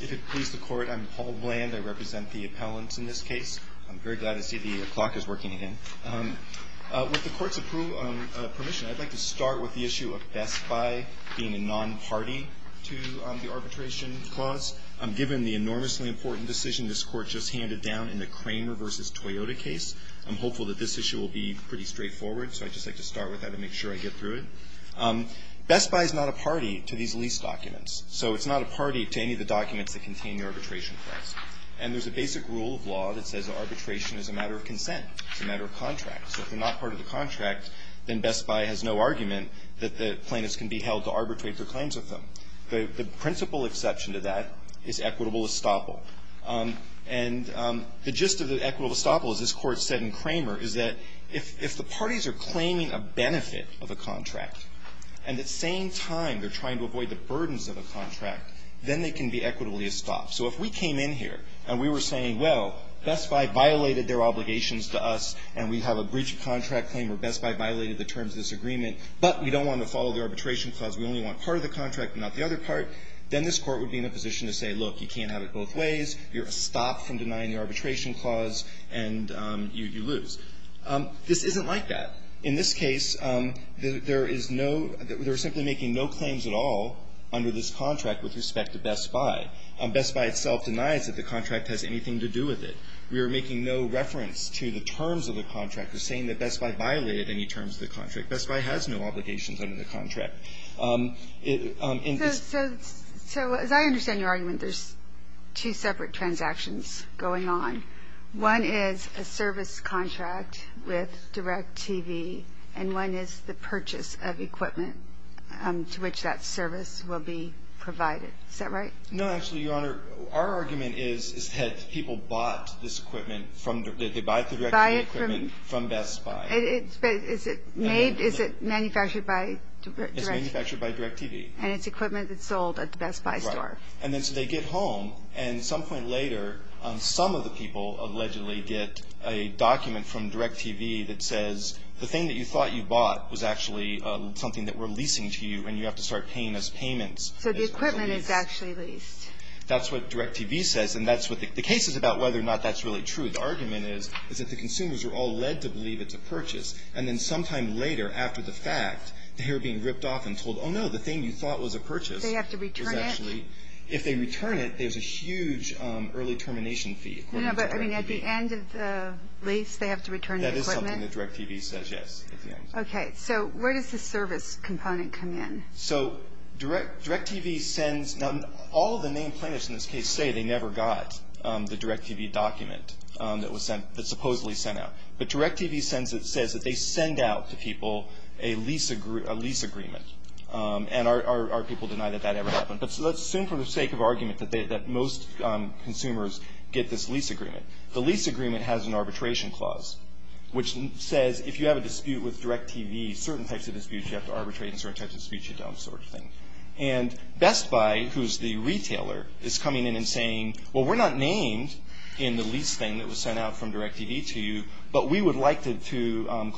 If it pleases the court, I'm Paul Bland. I represent the appellants in this case. I'm very glad to see the clock is working again. With the court's permission, I'd like to start with the issue of Best Buy being a non-party to the arbitration clause. Given the enormously important decision this court just handed down in the Cramer v. Toyota case, I'm hopeful that this issue will be pretty straightforward, so I'd just like to start with that and make sure I get through it. Best Buy is not a party to these lease documents, so it's not a party to any of the documents that contain the arbitration clause. And there's a basic rule of law that says arbitration is a matter of consent. It's a matter of contract. So if they're not part of the contract, then Best Buy has no argument that the plaintiffs can be held to arbitrate their claims with them. The principal exception to that is equitable estoppel. And the gist of the equitable estoppel, as this Court said in Cramer, is that if the parties are claiming a benefit of a contract and at the same time they're trying to avoid the burdens of a contract, then they can be equitably estopped. So if we came in here and we were saying, well, Best Buy violated their obligations to us, and we have a breach of contract claim, or Best Buy violated the terms of this agreement, but we don't want to follow the arbitration clause, we only want part of the contract and not the other part, then this Court would be in a position to say, look, you can't have it both ways. You're estopped from denying the arbitration clause, and you lose. This isn't like that. In this case, there is no – they're simply making no claims at all under this contract with respect to Best Buy. Best Buy itself denies that the contract has anything to do with it. We are making no reference to the terms of the contract. We're saying that Best Buy violated any terms of the contract. Best Buy has no obligations under the contract. So as I understand your argument, there's two separate transactions going on. One is a service contract with DirecTV, and one is the purchase of equipment to which that service will be provided. Is that right? No, actually, Your Honor, our argument is that people bought this equipment from – that they bought the DirecTV equipment from Best Buy. Is it made – is it manufactured by DirecTV? It's manufactured by DirecTV. And it's equipment that's sold at the Best Buy store. Right. And then so they get home, and at some point later, some of the people allegedly get a document from DirecTV that says, the thing that you thought you bought was actually something that we're leasing to you, and you have to start paying us payments. So the equipment is actually leased. That's what DirecTV says, and that's what – the case is about whether or not that's really true. The argument is that the consumers are all led to believe it's a purchase, and then sometime later, after the fact, they are being ripped off and told, oh, no, the thing you thought was a purchase is actually – Do they have to return it? If they return it, there's a huge early termination fee according to DirecTV. No, but, I mean, at the end of the lease, they have to return the equipment? That is something that DirecTV says, yes, at the end. Okay. So where does the service component come in? So DirecTV sends – now, all of the main plaintiffs in this case say they never got the DirecTV document that was sent – that supposedly sent out. But DirecTV says that they send out to people a lease agreement, and our people deny that that ever happened. But let's assume for the sake of argument that most consumers get this lease agreement. The lease agreement has an arbitration clause, which says if you have a dispute with DirecTV, certain types of disputes you have to arbitrate, and certain types of disputes you don't, sort of thing. And Best Buy, who's the retailer, is coming in and saying, well, we're not named in the lease thing that was sent out from DirecTV to you, but we would like to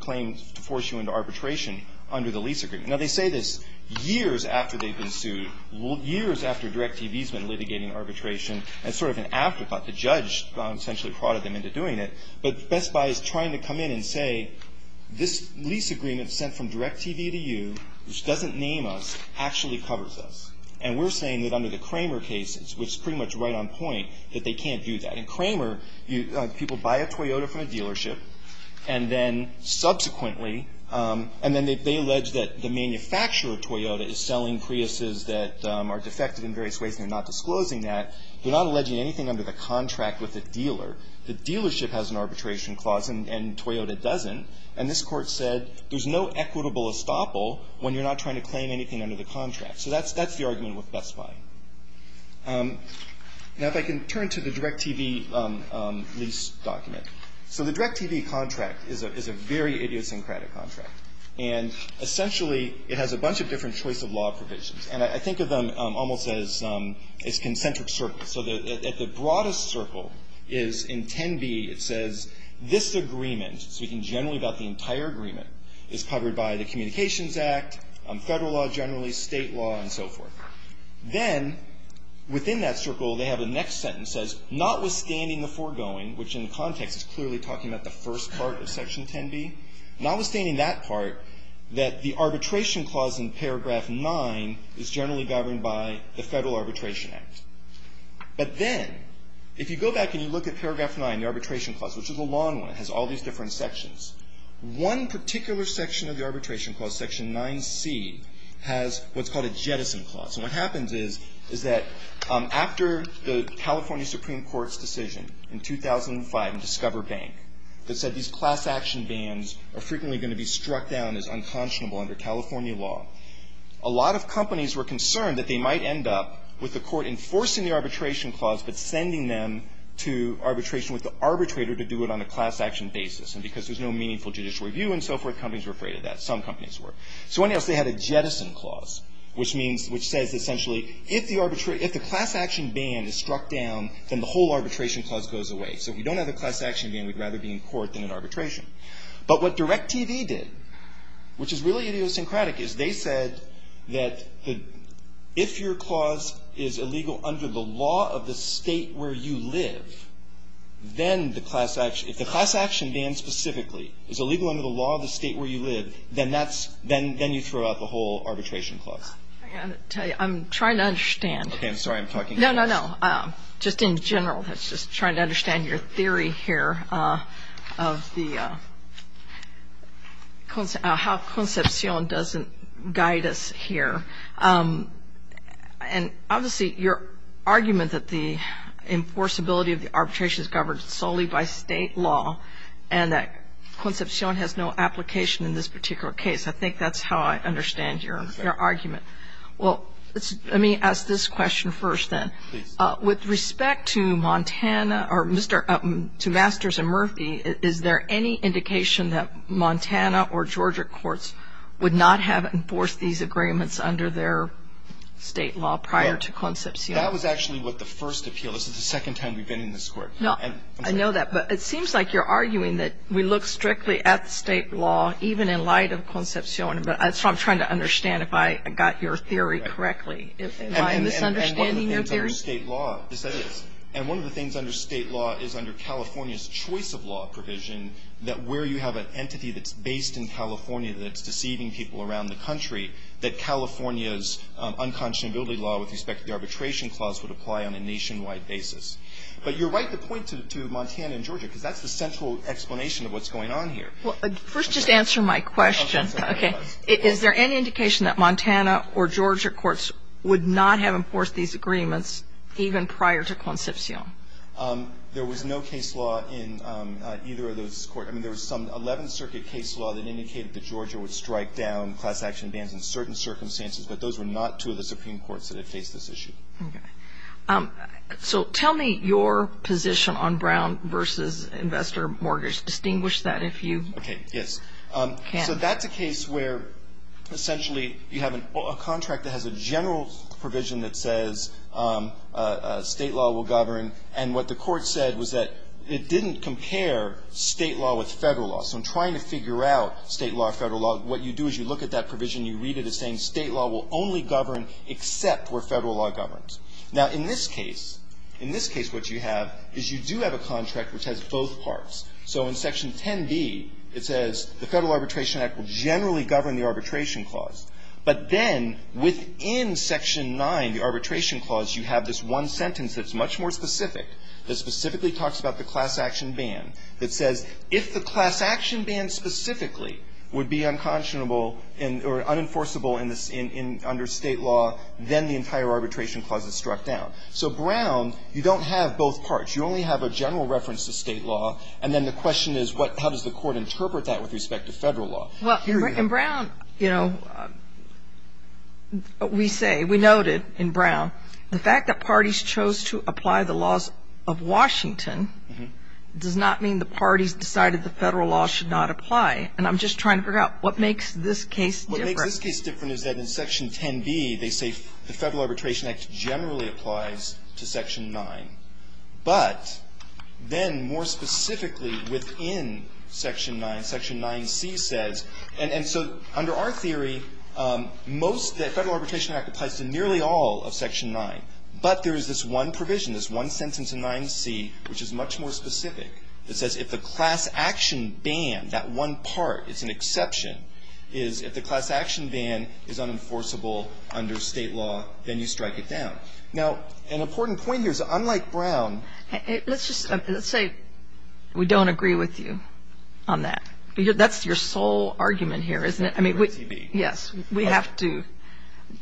claim to force you into arbitration under the lease agreement. Now, they say this years after they've been sued, years after DirecTV's been litigating arbitration, as sort of an afterthought. The judge essentially prodded them into doing it. But Best Buy is trying to come in and say, this lease agreement sent from DirecTV to you, which doesn't name us, actually covers us. And we're saying that under the Kramer cases, which is pretty much right on point, that they can't do that. In Kramer, people buy a Toyota from a dealership, and then subsequently they allege that the manufacturer of Toyota is selling Priuses that are defective in various ways, and they're not disclosing that. They're not alleging anything under the contract with the dealer. The dealership has an arbitration clause, and Toyota doesn't. And this Court said there's no equitable estoppel when you're not trying to claim anything under the contract. So that's the argument with Best Buy. Now, if I can turn to the DirecTV lease document. So the DirecTV contract is a very idiosyncratic contract. And essentially, it has a bunch of different choice of law provisions. And I think of them almost as concentric circles. So at the broadest circle is in 10b, it says, this agreement, speaking generally about the entire agreement, is covered by the Communications Act, federal law generally, state law, and so forth. Then, within that circle, they have the next sentence that says, notwithstanding the foregoing, which in the context is clearly talking about the first part of Section 10b, notwithstanding that part, that the arbitration clause in paragraph 9 is generally governed by the Federal Arbitration Act. But then, if you go back and you look at paragraph 9, the arbitration clause, which is a long one. It has all these different sections. One particular section of the arbitration clause, Section 9c, has what's called a jettison clause. And what happens is, is that after the California Supreme Court's decision in 2005 in Discover Bank that said these class action bans are frequently going to be struck down as unconscionable under California law, a lot of companies were concerned that they might end up with the court enforcing the arbitration clause but sending them to arbitration with the arbitrator to do it on a class action basis. And because there's no meaningful judicial review and so forth, companies were afraid of that. Some companies were. So what else? They had a jettison clause, which means, which says essentially, if the class action ban is struck down, then the whole arbitration clause goes away. So if we don't have a class action ban, we'd rather be in court than in arbitration. But what DirecTV did, which is really idiosyncratic, is they said that if your clause is illegal under the law of the state where you live, then the class action, if the class action ban specifically is illegal under the law of the state where you live, then that's, then you throw out the whole arbitration clause. I'm trying to understand. Okay, I'm sorry, I'm talking too fast. No, no, no. Just in general, just trying to understand your theory here of the, how Concepcion doesn't guide us here. And obviously, your argument that the enforceability of the arbitration is governed solely by state law and that Concepcion has no application in this particular case, I think that's how I understand your argument. Well, let me ask this question first then. With respect to Montana or to Masters and Murphy, is there any indication that Montana or Georgia courts would not have enforced these agreements under their state law prior to Concepcion? That was actually with the first appeal. This is the second time we've been in this court. No, I know that. But it seems like you're arguing that we look strictly at the state law even in light of Concepcion. But I'm trying to understand if I got your theory correctly. Am I misunderstanding your theory? Under state law. Yes, that is. And one of the things under state law is under California's choice of law provision that where you have an entity that's based in California that's deceiving people around the country, that California's unconscionability law with respect to the arbitration clause would apply on a nationwide basis. But you're right to point to Montana and Georgia because that's the central explanation of what's going on here. Well, first just answer my question. Okay. Is there any indication that Montana or Georgia courts would not have enforced these agreements even prior to Concepcion? There was no case law in either of those courts. I mean, there was some 11th Circuit case law that indicated that Georgia would strike down class action bans in certain circumstances, but those were not two of the Supreme Courts that had faced this issue. Okay. So tell me your position on Brown v. Investor Mortgage. Distinguish that if you can. Okay, yes. So that's a case where essentially you have a contract that has a general provision that says state law will govern. And what the Court said was that it didn't compare state law with Federal law. So in trying to figure out state law, Federal law, what you do is you look at that provision, you read it as saying state law will only govern except where Federal law governs. Now, in this case, in this case what you have is you do have a contract which has both parts. So in Section 10b, it says the Federal Arbitration Act will generally govern the arbitration clause, but then within Section 9, the arbitration clause, you have this one sentence that's much more specific that specifically talks about the class action ban that says if the class action ban specifically would be unconscionable or unenforceable under state law, then the entire arbitration clause is struck down. So Brown, you don't have both parts. You only have a general reference to state law. And then the question is how does the Court interpret that with respect to Federal Here we go. Well, in Brown, you know, we say, we noted in Brown the fact that parties chose to apply the laws of Washington does not mean the parties decided the Federal law should not apply. And I'm just trying to figure out what makes this case different. What makes this case different is that in Section 10b, they say the Federal Arbitration Act generally applies to Section 9. But then more specifically within Section 9, Section 9c says, and so under our theory, most, the Federal Arbitration Act applies to nearly all of Section 9. But there is this one provision, this one sentence in 9c, which is much more specific that says if the class action ban, that one part, it's an exception, is if the class action ban is unenforceable under state law, then you strike it down. Now, an important point here is that unlike Brown ---- Let's just say we don't agree with you on that. That's your sole argument here, isn't it? Yes. We have to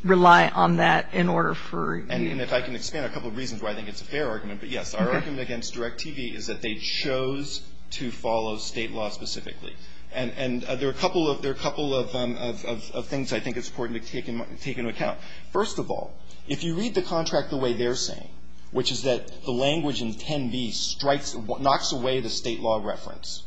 rely on that in order for you to ---- And if I can expand a couple of reasons why I think it's a fair argument. But, yes, our argument against Direct TV is that they chose to follow state law specifically. And there are a couple of things I think it's important to take into account. First of all, if you read the contract the way they're saying, which is that the language in 10b strikes, knocks away the state law reference,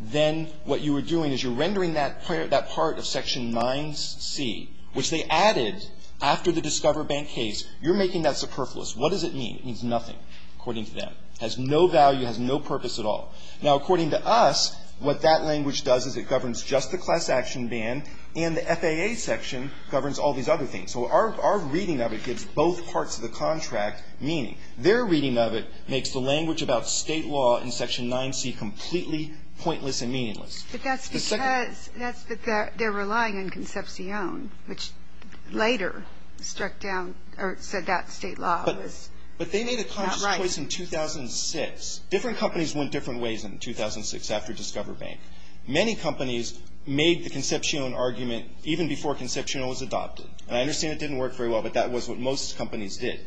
then what you are doing is you're rendering that part of Section 9c, which they added after the Discover Bank case, you're making that superfluous. What does it mean? It means nothing, according to them. It has no value. It has no purpose at all. Now, according to us, what that language does is it governs just the class action ban, and the FAA section governs all these other things. So our reading of it gives both parts of the contract meaning. Their reading of it makes the language about state law in Section 9c completely pointless and meaningless. But that's because they're relying on Concepcion, which later struck down or said that state law was not right. But they made a conscious choice in 2006. Different companies went different ways in 2006 after Discover Bank. Many companies made the Concepcion argument even before Concepcion was adopted. And I understand it didn't work very well, but that was what most companies did.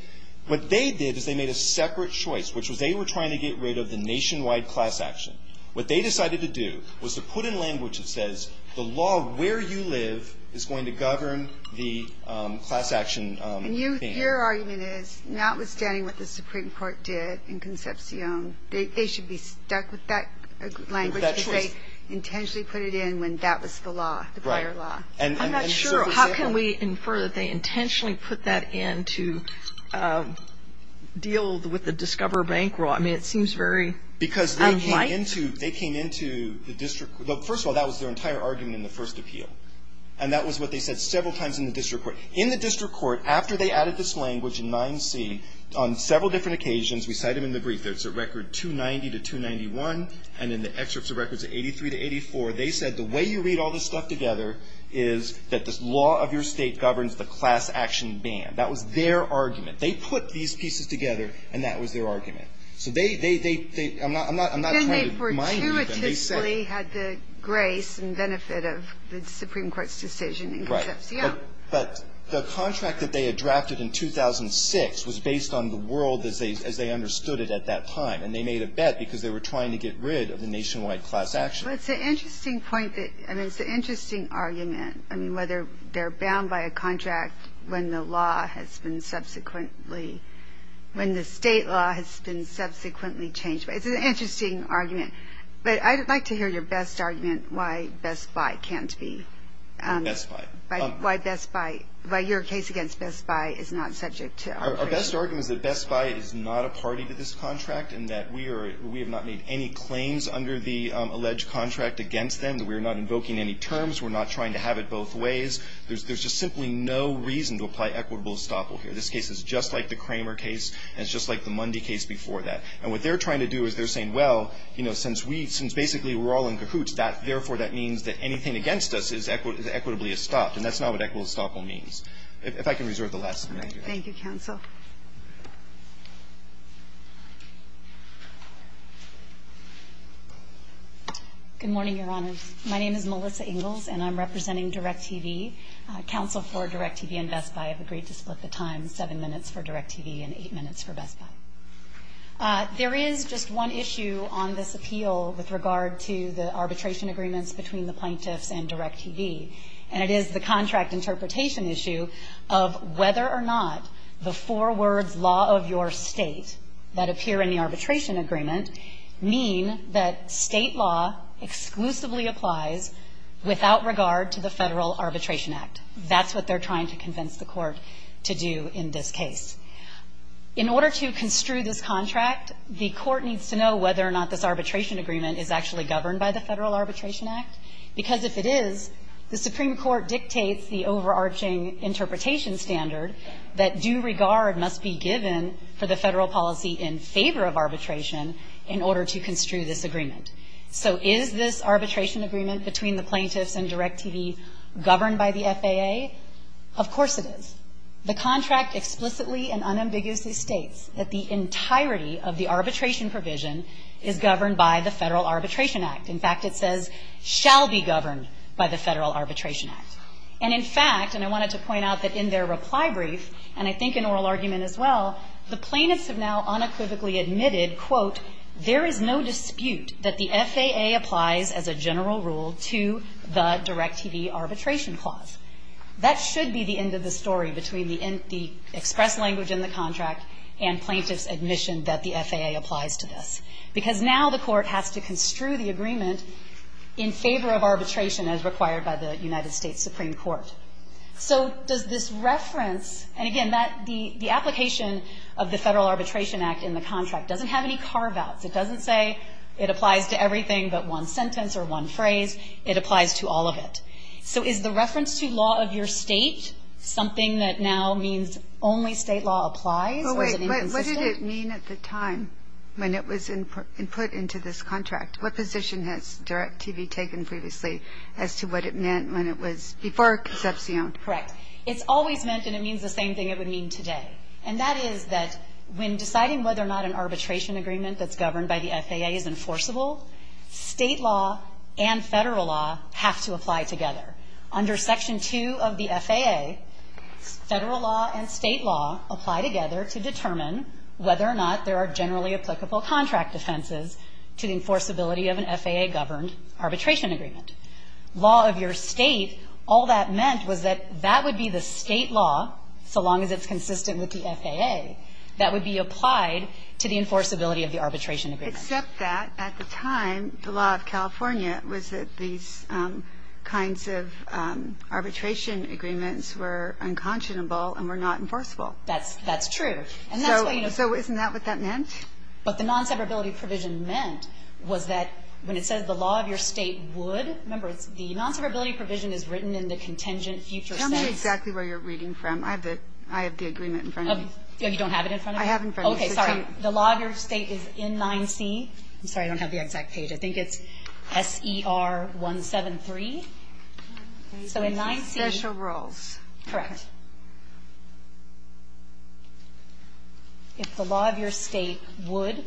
What they did is they made a separate choice, which was they were trying to get rid of the nationwide class action. What they decided to do was to put in language that says the law where you live is going to govern the class action ban. And your argument is notwithstanding what the Supreme Court did in Concepcion, they should be stuck with that language. With that choice. They intentionally put it in when that was the law, the prior law. I'm not sure. How can we infer that they intentionally put that in to deal with the Discover Bank law? I mean, it seems very unlike. Because they came into the district court. First of all, that was their entire argument in the first appeal. And that was what they said several times in the district court. In the district court, after they added this language in 9c, on several different occasions, we cite them in the brief. There's a record 290 to 291, and in the excerpts of records of 83 to 84, they said the way you read all this stuff together is that the law of your state governs the class action ban. That was their argument. They put these pieces together, and that was their argument. So they, they, they, they, I'm not, I'm not trying to mime you. Then they fortuitously had the grace and benefit of the Supreme Court's decision in Concepcion. Right. But the contract that they had drafted in 2006 was based on the world as they, as they understood it at that time. And they made a bet because they were trying to get rid of the nationwide class action. Well, it's an interesting point that, I mean, it's an interesting argument. I mean, whether they're bound by a contract when the law has been subsequently, when the state law has been subsequently changed. But it's an interesting argument. But I'd like to hear your best argument why Best Buy can't be. Best Buy. Why Best Buy, why your case against Best Buy is not subject to our criteria. Our best argument is that Best Buy is not a party to this contract and that we are, we have not made any claims under the alleged contract against them. That we are not invoking any terms. We're not trying to have it both ways. There's, there's just simply no reason to apply equitable estoppel here. This case is just like the Kramer case and it's just like the Mundy case before that. And what they're trying to do is they're saying, well, you know, since we, since basically we're all in cahoots, that, therefore, that means that anything against us is equitably estopped. And that's not what equitable estoppel means. If I can reserve the last comment here. Thank you, counsel. Good morning, Your Honors. My name is Melissa Ingalls and I'm representing Direct TV. Counsel for Direct TV and Best Buy have agreed to split the time, seven minutes for Direct TV and eight minutes for Best Buy. There is just one issue on this appeal with regard to the arbitration agreements between the plaintiffs and Direct TV. And it is the contract interpretation issue of whether or not the four plaintiffs four words law of your state that appear in the arbitration agreement mean that state law exclusively applies without regard to the Federal Arbitration Act. That's what they're trying to convince the court to do in this case. In order to construe this contract, the court needs to know whether or not this arbitration agreement is actually governed by the Federal Arbitration Act. Because if it is, the Supreme Court dictates the overarching interpretation standard that due regard must be given for the Federal policy in favor of arbitration in order to construe this agreement. So is this arbitration agreement between the plaintiffs and Direct TV governed by the FAA? Of course it is. The contract explicitly and unambiguously states that the entirety of the arbitration provision is governed by the Federal Arbitration Act. In fact, it says shall be governed by the Federal Arbitration Act. And in fact, and I wanted to point out that in their reply brief, and I think in oral argument as well, the plaintiffs have now unequivocally admitted, quote, there is no dispute that the FAA applies as a general rule to the Direct TV arbitration clause. That should be the end of the story between the express language in the contract and plaintiffs' admission that the FAA applies to this. Because now the court has to construe the agreement in favor of arbitration as required by the United States Supreme Court. So does this reference, and again, that the application of the Federal Arbitration Act in the contract doesn't have any carve-outs. It doesn't say it applies to everything but one sentence or one phrase. It applies to all of it. So is the reference to law of your State something that now means only State law applies or is it inconsistent? But wait. What did it mean at the time when it was put into this contract? What position has Direct TV taken previously as to what it meant when it was before conception? Correct. It's always meant and it means the same thing it would mean today. And that is that when deciding whether or not an arbitration agreement that's governed by the FAA is enforceable, State law and Federal law have to apply together. Under Section 2 of the FAA, Federal law and State law apply together to determine whether or not there are generally applicable contract offenses to the enforceability of an FAA-governed arbitration agreement. Law of your State, all that meant was that that would be the State law, so long as it's consistent with the FAA, that would be applied to the enforceability of the arbitration agreement. Except that at the time, the law of California was that these kinds of arbitration agreements were unconscionable and were not enforceable. That's true. So isn't that what that meant? What the non-separability provision meant was that when it says the law of your State would, remember, the non-separability provision is written in the contingent future sentence. Tell me exactly where you're reading from. I have the agreement in front of me. You don't have it in front of you? I have it in front of me. Okay. Sorry. The law of your State is N9C. I'm sorry. I don't have the exact page. I think it's SER173. So N9C. Special rules. Correct. If the law of your State would,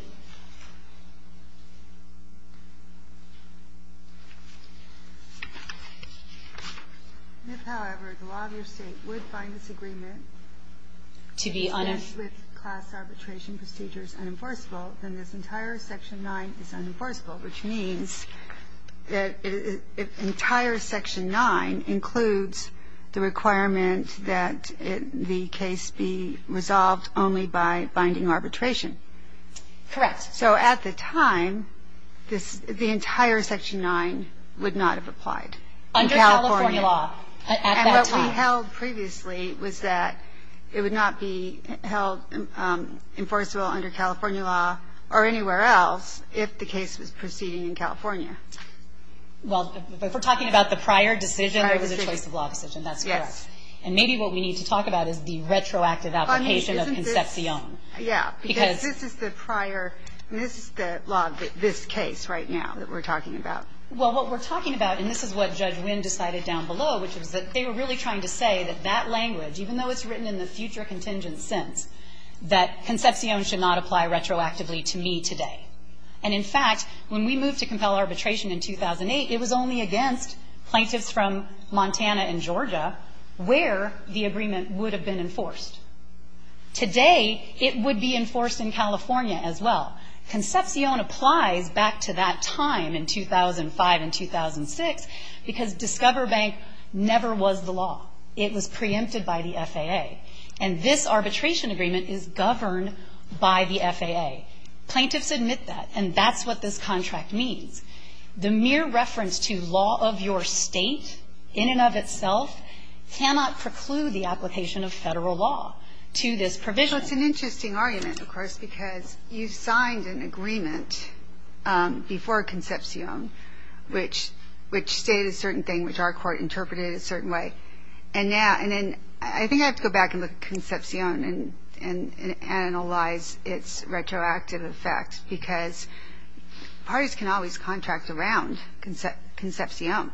however, the law of your State would find this agreement with class arbitration procedures unenforceable, then this entire Section 9 is unenforceable, which means that entire Section 9 includes the requirement that the case be resolved only by binding arbitration. Correct. So at the time, the entire Section 9 would not have applied. Under California law at that time. And what we held previously was that it would not be held enforceable under California law or anywhere else if the case was proceeding in California. Well, if we're talking about the prior decision, there was a choice of law decision. That's correct. Yes. And maybe what we need to talk about is the retroactive application of Concepcion. Yeah. Because this is the prior, and this is the law of this case right now that we're talking about. Well, what we're talking about, and this is what Judge Wynn decided down below, which is that they were really trying to say that that language, even though it's written in the future contingent sense, that Concepcion should not apply retroactively to me today. And, in fact, when we moved to compel arbitration in 2008, it was only against plaintiffs from Montana and Georgia where the agreement would have been enforced. Today, it would be enforced in California as well. Concepcion applies back to that time in 2005 and 2006 because Discover Bank never was the law. It was preempted by the FAA. And this arbitration agreement is governed by the FAA. Plaintiffs admit that, and that's what this contract means. The mere reference to law of your state in and of itself cannot preclude the application of Federal law to this provision. Well, it's an interesting argument, of course, because you signed an agreement before Concepcion which stated a certain thing, which our court interpreted a certain way. I think I have to go back and look at Concepcion and analyze its retroactive effect because parties can always contract around Concepcion.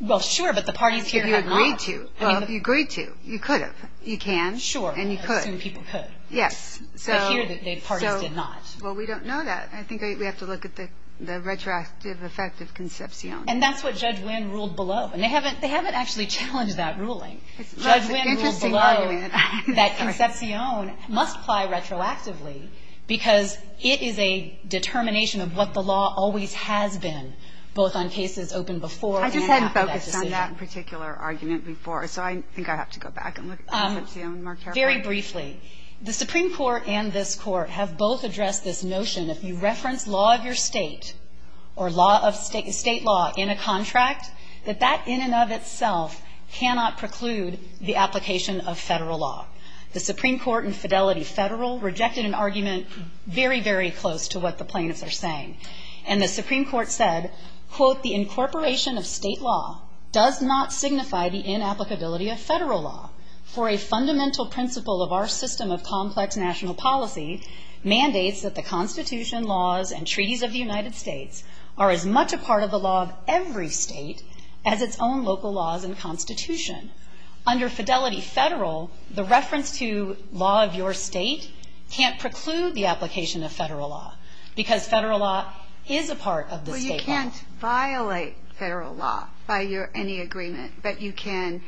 Well, sure, but the parties here have not. You agreed to. You could have. You can. Sure. And you could. I assume people could. Yes. But here the parties did not. Well, we don't know that. I think we have to look at the retroactive effect of Concepcion. And that's what Judge Wynn ruled below. And they haven't actually challenged that ruling. Judge Wynn ruled below that Concepcion must apply retroactively because it is a determination of what the law always has been, both on cases open before and after that decision. I just hadn't focused on that particular argument before. So I think I have to go back and look at Concepcion more carefully. Very briefly, the Supreme Court and this Court have both addressed this notion that if you reference law of your state or state law in a contract, that that in and of itself cannot preclude the application of Federal law. The Supreme Court in Fidelity Federal rejected an argument very, very close to what the plaintiffs are saying. And the Supreme Court said, quote, the incorporation of state law does not signify the inapplicability of Federal law for a fundamental principle of our system of complex national policy mandates that the Constitution laws and treaties of the United States are as much a part of the law of every state as its own local laws and Constitution. Under Fidelity Federal, the reference to law of your state can't preclude the application of Federal law because Federal law is a part of the state law. Well, you can't violate Federal law by any agreement. But you can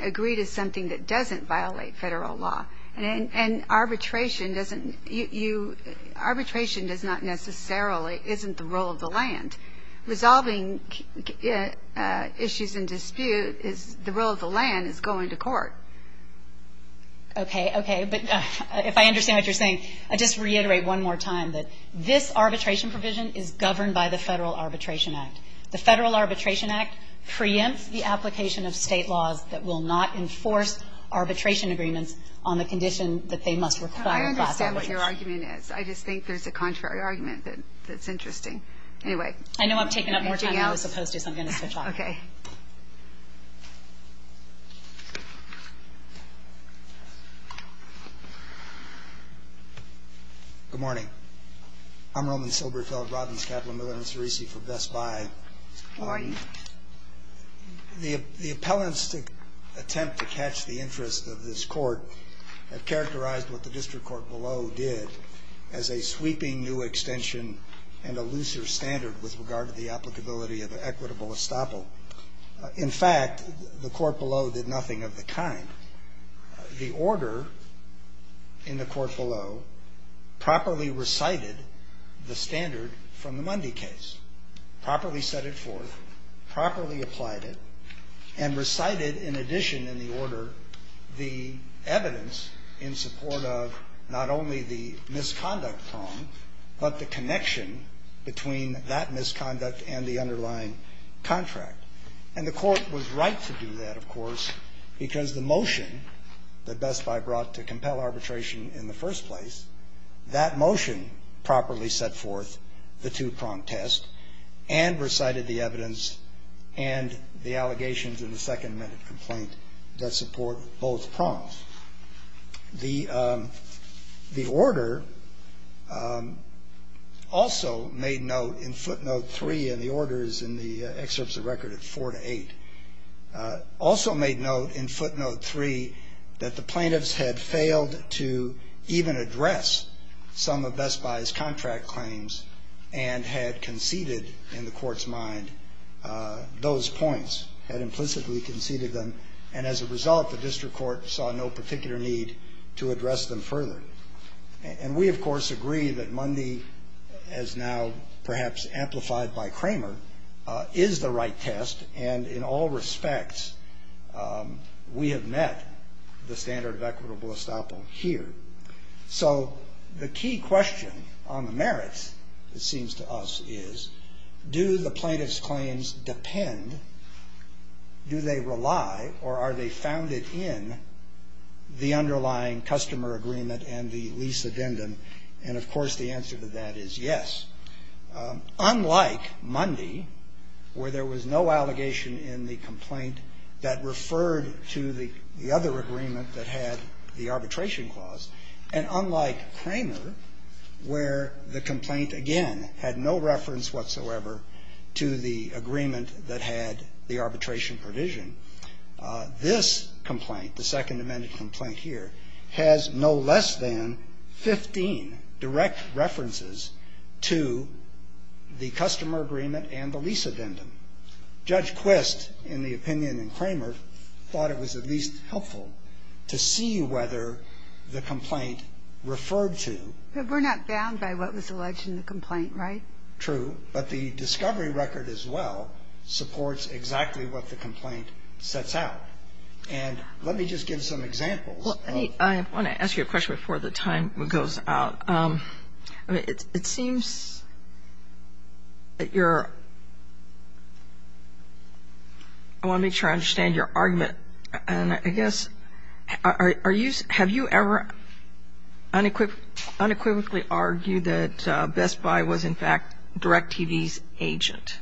agree to something that doesn't violate Federal law. And arbitration doesn't you arbitration does not necessarily isn't the role of the land. Resolving issues in dispute is the role of the land is going to court. Okay. Okay. But if I understand what you're saying, I'll just reiterate one more time that this arbitration provision is governed by the Federal Arbitration Act. The Federal Arbitration Act preempts the application of state laws that will not enforce arbitration agreements on the condition that they must require. I understand what your argument is. I just think there's a contrary argument that's interesting. Anyway. I know I've taken up more time than I was supposed to, so I'm going to switch off. Okay. Good morning. I'm Roman Silberfeld. Robbins, Kaplan, Miller, and Cerisi from Best Buy. Good morning. The appellants' attempt to catch the interest of this Court have characterized what the district court below did as a sweeping new extension and a looser standard with regard to the applicability of equitable estoppel. In fact, the court below did nothing of the kind. The order in the court below properly recited the standard from the Mundy case, properly set it forth, properly applied it, and recited in addition in the order the evidence in support of not only the misconduct prong but the connection between that misconduct and the underlying contract. And the court was right to do that, of course, because the motion that Best Buy brought to compel arbitration in the first place, that motion properly set forth the two-prong test and recited the evidence and the allegations in the second-minute complaint that support both prongs. The order also made note in footnote 3, and the order is in the excerpts of record at 4 to 8, also made note in footnote 3 that the plaintiffs had failed to even address some of Best Buy's contract claims and had conceded in the court's mind those points, had implicitly conceded them. And as a result, the district court saw no particular need to address them further. And we, of course, agree that Mundy, as now perhaps amplified by Kramer, is the right test. And in all respects, we have met the standard of equitable estoppel here. So the key question on the merits, it seems to us, is do the plaintiffs' claims depend, do they rely, or are they founded in the underlying customer agreement and the lease addendum? And, of course, the answer to that is yes. Unlike Mundy, where there was no allegation in the complaint that referred to the other agreement that had the arbitration clause, and unlike Kramer, where the complaint, again, had no reference whatsoever to the agreement that had the arbitration provision, this complaint, the Second Amendment complaint here, has no less than 15 direct references to the customer agreement and the lease addendum. And Judge Quist, in the opinion in Kramer, thought it was at least helpful to see whether the complaint referred to the other agreement that had the arbitration provision. We're not bound by what was alleged in the complaint, right? True. But the discovery record as well supports exactly what the complaint sets out. And let me just give some examples of the complaint. Well, I want to ask you a question before the time goes out. It seems that you're – I want to make sure I understand your argument. And I guess – have you ever unequivocally argued that Best Buy was, in fact, DirecTV's agent?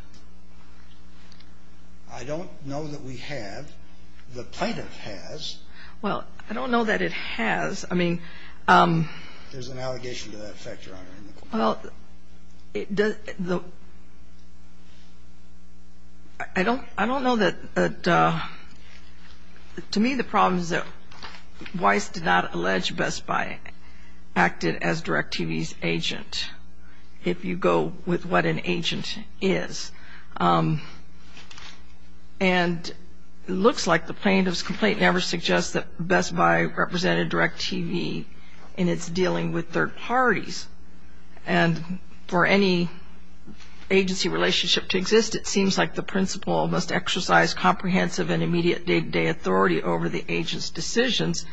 I don't know that we have. The plaintiff has. Well, I don't know that it has. There's an allegation to that effect, Your Honor, in the complaint. I don't know that – to me, the problem is that Weiss did not allege Best Buy acted as DirecTV's agent, if you go with what an agent is. And it looks like the plaintiff's complaint never suggests that Best Buy represented DirecTV in its dealing with third parties. And for any agency relationship to exist, it seems like the principal must exercise comprehensive and immediate day-to-day authority over the agent's decisions.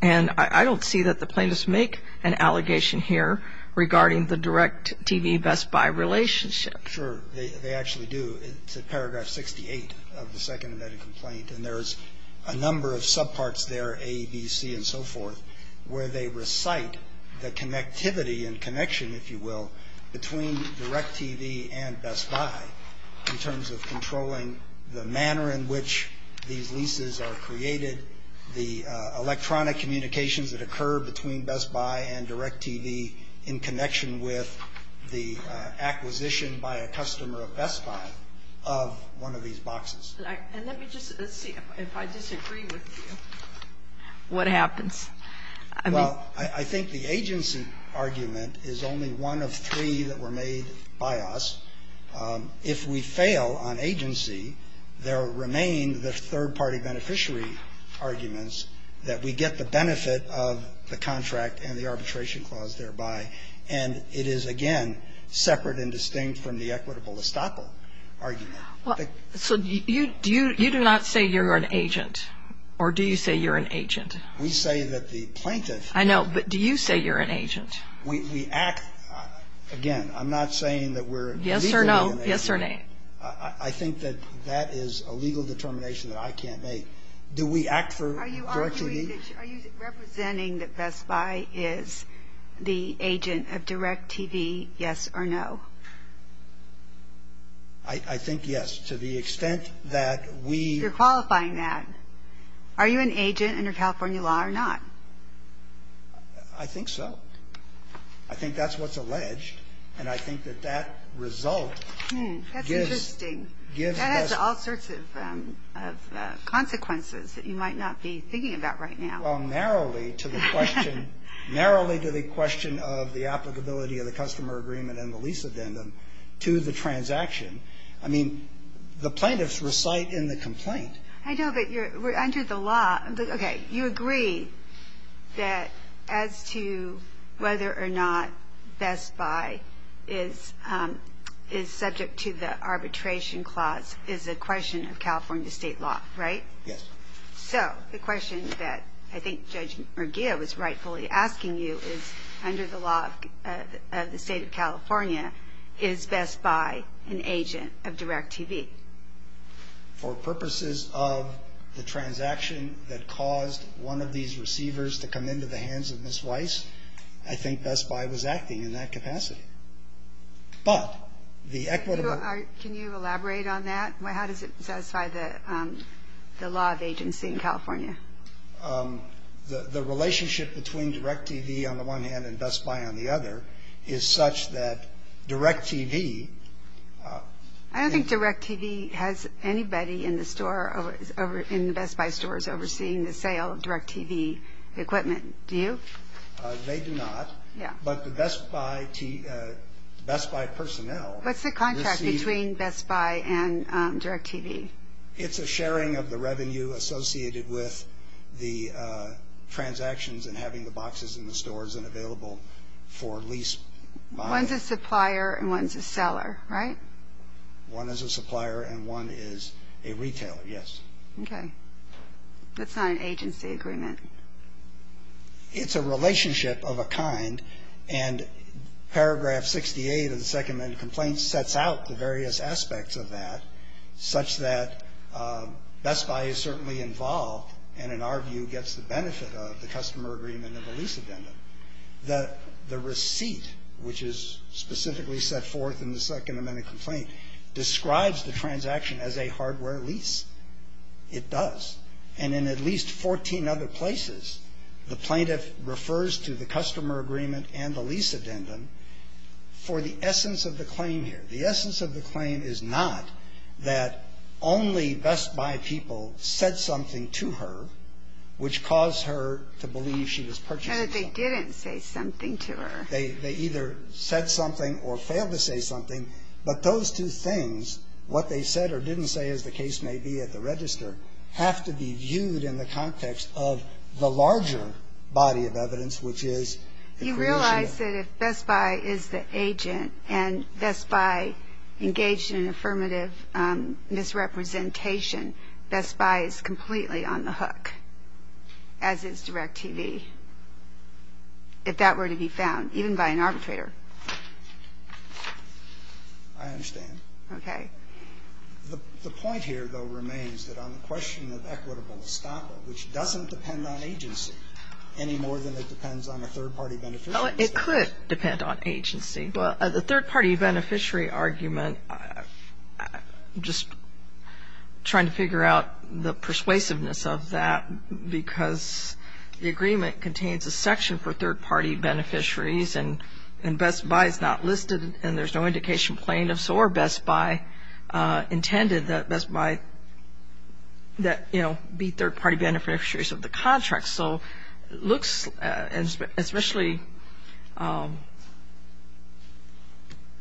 And I don't see that the plaintiffs make an allegation here regarding the DirecTV-Best Buy relationship. Sure. They actually do. It's at paragraph 68 of the second embedded complaint. And there's a number of subparts there, A, B, C, and so forth, where they recite the connectivity and connection, if you will, between DirecTV and Best Buy in terms of controlling the manner in which these leases are created, the electronic communications that occur between Best Buy and DirecTV in connection with the acquisition by a customer of Best Buy of one of these boxes. And let me just see if I disagree with you. What happens? Well, I think the agency argument is only one of three that were made by us. If we fail on agency, there remain the third-party beneficiary arguments that we get the benefit of the contract and the arbitration clause thereby. And it is, again, separate and distinct from the equitable estoppel argument. So you do not say you're an agent, or do you say you're an agent? We say that the plaintiff ---- I know. But do you say you're an agent? We act. Again, I'm not saying that we're legally an agent. Yes or no. Yes or nay. I think that that is a legal determination that I can't make. Do we act for DirecTV? Are you representing that Best Buy is the agent of DirecTV, yes or no? I think yes, to the extent that we ---- You're qualifying that. Are you an agent under California law or not? I think so. I think that's what's alleged. And I think that that result gives ---- That's interesting. That has all sorts of consequences that you might not be thinking about right now. Well, narrowly to the question of the applicability of the customer agreement and the lease addendum to the transaction. I mean, the plaintiffs recite in the complaint. I know. But under the law ---- Whether or not Best Buy is subject to the arbitration clause is a question of California state law, right? Yes. So the question that I think Judge Murguia was rightfully asking you is, under the law of the state of California, is Best Buy an agent of DirecTV? For purposes of the transaction that caused one of these receivers to come into the hands of Ms. Weiss, I think Best Buy was acting in that capacity. But the equitable ---- Can you elaborate on that? How does it satisfy the law of agency in California? The relationship between DirecTV on the one hand and Best Buy on the other is such that DirecTV ---- I don't think DirecTV has anybody in the Best Buy stores overseeing the sale of DirecTV equipment. Do you? They do not. Yeah. But the Best Buy personnel receive ---- What's the contract between Best Buy and DirecTV? It's a sharing of the revenue associated with the transactions and having the boxes in the stores and available for lease buying. One's a supplier and one's a seller, right? One is a supplier and one is a retailer, yes. Okay. That's not an agency agreement. It's a relationship of a kind. And paragraph 68 of the Second Amendment Complaint sets out the various aspects of that such that Best Buy is certainly involved and, in our view, gets the benefit of the customer agreement and the lease addendum. The receipt, which is specifically set forth in the Second Amendment Complaint, describes the transaction as a hardware lease. It does. And in at least 14 other places, the plaintiff refers to the customer agreement and the lease addendum for the essence of the claim here. The essence of the claim is not that only Best Buy people said something to her, which caused her to believe she was purchasing something. No, they didn't say something to her. They either said something or failed to say something, but those two things, what they said or didn't say, as the case may be at the register, have to be viewed in the context of the larger body of evidence, which is... You realize that if Best Buy is the agent and Best Buy engaged in an affirmative misrepresentation, Best Buy is completely on the hook, as is DirecTV, if that were to be found, even by an arbitrator. I understand. Okay. The point here, though, remains that on the question of equitable estoppel, which doesn't depend on agency any more than it depends on a third-party beneficiary... It could depend on agency. The third-party beneficiary argument, I'm just trying to figure out the persuasiveness of that because the agreement contains a section for third-party beneficiaries and Best Buy is not listed and there's no indication plaintiffs or Best Buy intended that Best Buy, you know, be third-party beneficiaries of the contract. So it looks, especially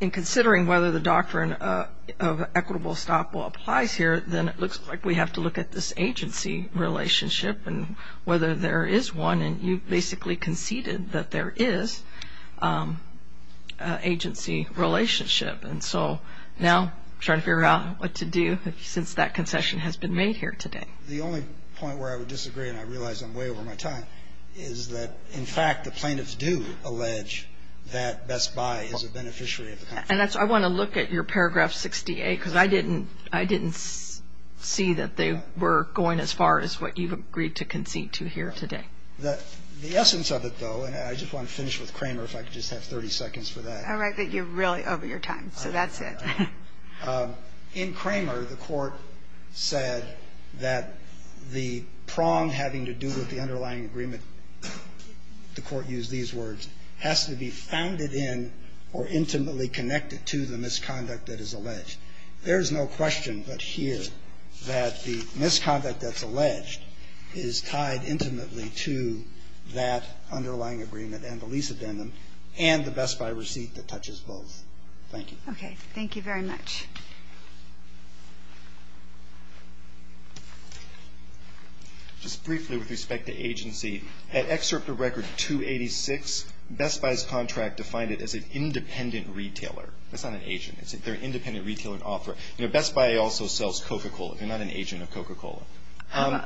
in considering whether the doctrine of equitable estoppel applies here, then it looks like we have to look at this agency relationship and whether there is one, and you basically conceded that there is an agency relationship. And so now I'm trying to figure out what to do since that concession has been made here today. The only point where I would disagree, and I realize I'm way over my time, is that, in fact, the plaintiffs do allege that Best Buy is a beneficiary of the contract. And that's why I want to look at your paragraph 68 because I didn't see that they were going as far as what you've agreed to concede to here today. The essence of it, though, and I just want to finish with Kramer, if I could just have 30 seconds for that. All right. You're really over your time, so that's it. In Kramer, the Court said that the prong having to do with the underlying agreement, the Court used these words, has to be founded in or intimately connected to the misconduct that is alleged. There is no question but here that the misconduct that's alleged is tied intimately to that underlying agreement and the lease addendum and the Best Buy receipt that touches both. Thank you. Okay. Thank you very much. Just briefly with respect to agency, at Excerpt of Record 286, Best Buy's contract defined it as an independent retailer. That's not an agent. They're an independent retailer and author. You know, Best Buy also sells Coca-Cola. They're not an agent of Coca-Cola.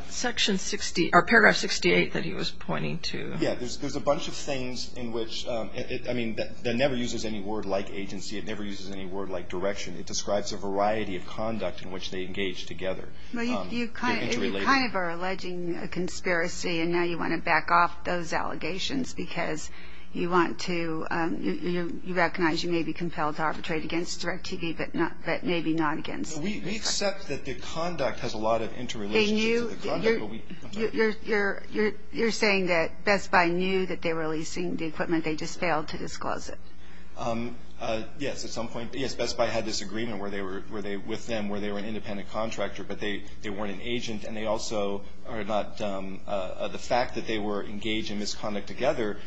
Section 60, or paragraph 68 that he was pointing to. Yeah. There's a bunch of things in which, I mean, that never uses any word like agency. It never uses any word like direction. It describes a variety of conduct in which they engage together. Well, you kind of are alleging a conspiracy, and now you want to back off those allegations because you want to, you recognize you may be compelled to arbitrate against direct TV but maybe not against. We accept that the conduct has a lot of interrelationships with the conduct. You're saying that Best Buy knew that they were leasing the equipment. They just failed to disclose it. Yes, at some point. Yes, Best Buy had this agreement with them where they were an independent contractor, but they weren't an agent, and they also are not the fact that they were engaged in this conduct together.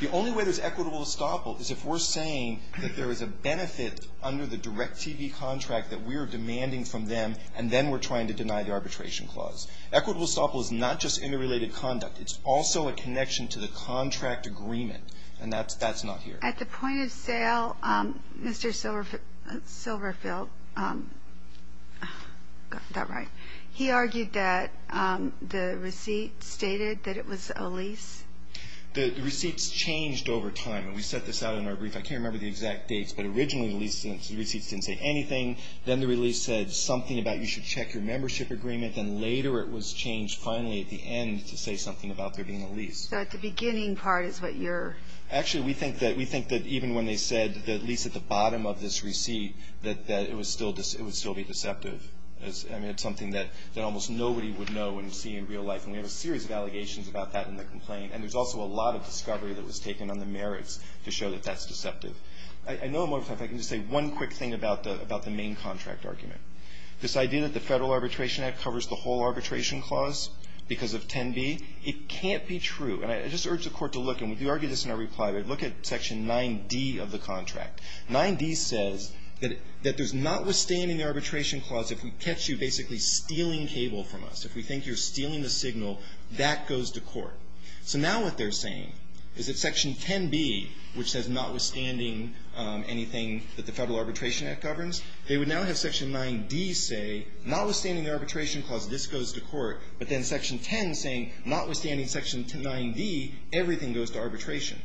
The only way there's equitable estoppel is if we're saying that there is a benefit under the direct TV contract that we are demanding from them, and then we're trying to deny the arbitration clause. Equitable estoppel is not just interrelated conduct. It's also a connection to the contract agreement, and that's not here. At the point of sale, Mr. Silverfield, got that right, he argued that the receipt stated that it was a lease. The receipts changed over time, and we set this out in our brief. I can't remember the exact dates, but originally the receipts didn't say anything. Then the release said something about you should check your membership agreement, and later it was changed finally at the end to say something about there being a lease. So at the beginning part is what you're – Actually, we think that even when they said the lease at the bottom of this receipt, that it would still be deceptive. I mean, it's something that almost nobody would know and see in real life, and we have a series of allegations about that in the complaint, and there's also a lot of discovery that was taken on the merits to show that that's deceptive. I know I'm over time, but if I can just say one quick thing about the main contract argument. This idea that the Federal Arbitration Act covers the whole arbitration clause because of 10b, it can't be true. And I just urge the Court to look, and we argue this in our reply, but look at Section 9d of the contract. 9d says that there's notwithstanding the arbitration clause, if we catch you basically stealing cable from us, if we think you're stealing the signal, that goes to court. So now what they're saying is that Section 10b, which says notwithstanding anything that the Federal Arbitration Act governs, they would now have Section 9d say, notwithstanding the arbitration clause, this goes to court, but then Section 10 saying, notwithstanding Section 9d, everything goes to arbitration.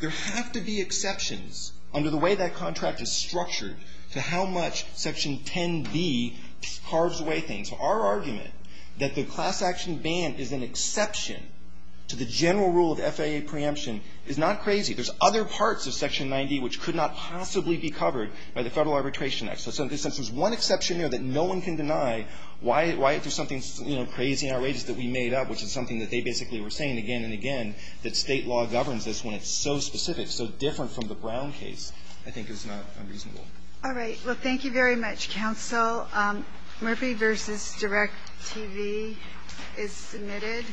There have to be exceptions under the way that contract is structured to how much Section 10b carves away things. Our argument that the class action ban is an exception to the general rule of FAA preemption is not crazy. There's other parts of Section 9d which could not possibly be covered by the Federal Arbitration Act. So there's one exception there that no one can deny. Why do something crazy and outrageous that we made up, which is something that they basically were saying again and again, that State law governs this when it's so specific, so different from the Brown case, I think is not unreasonable. All right. Well, thank you very much, counsel. Murphy v. Direct-TV is submitted.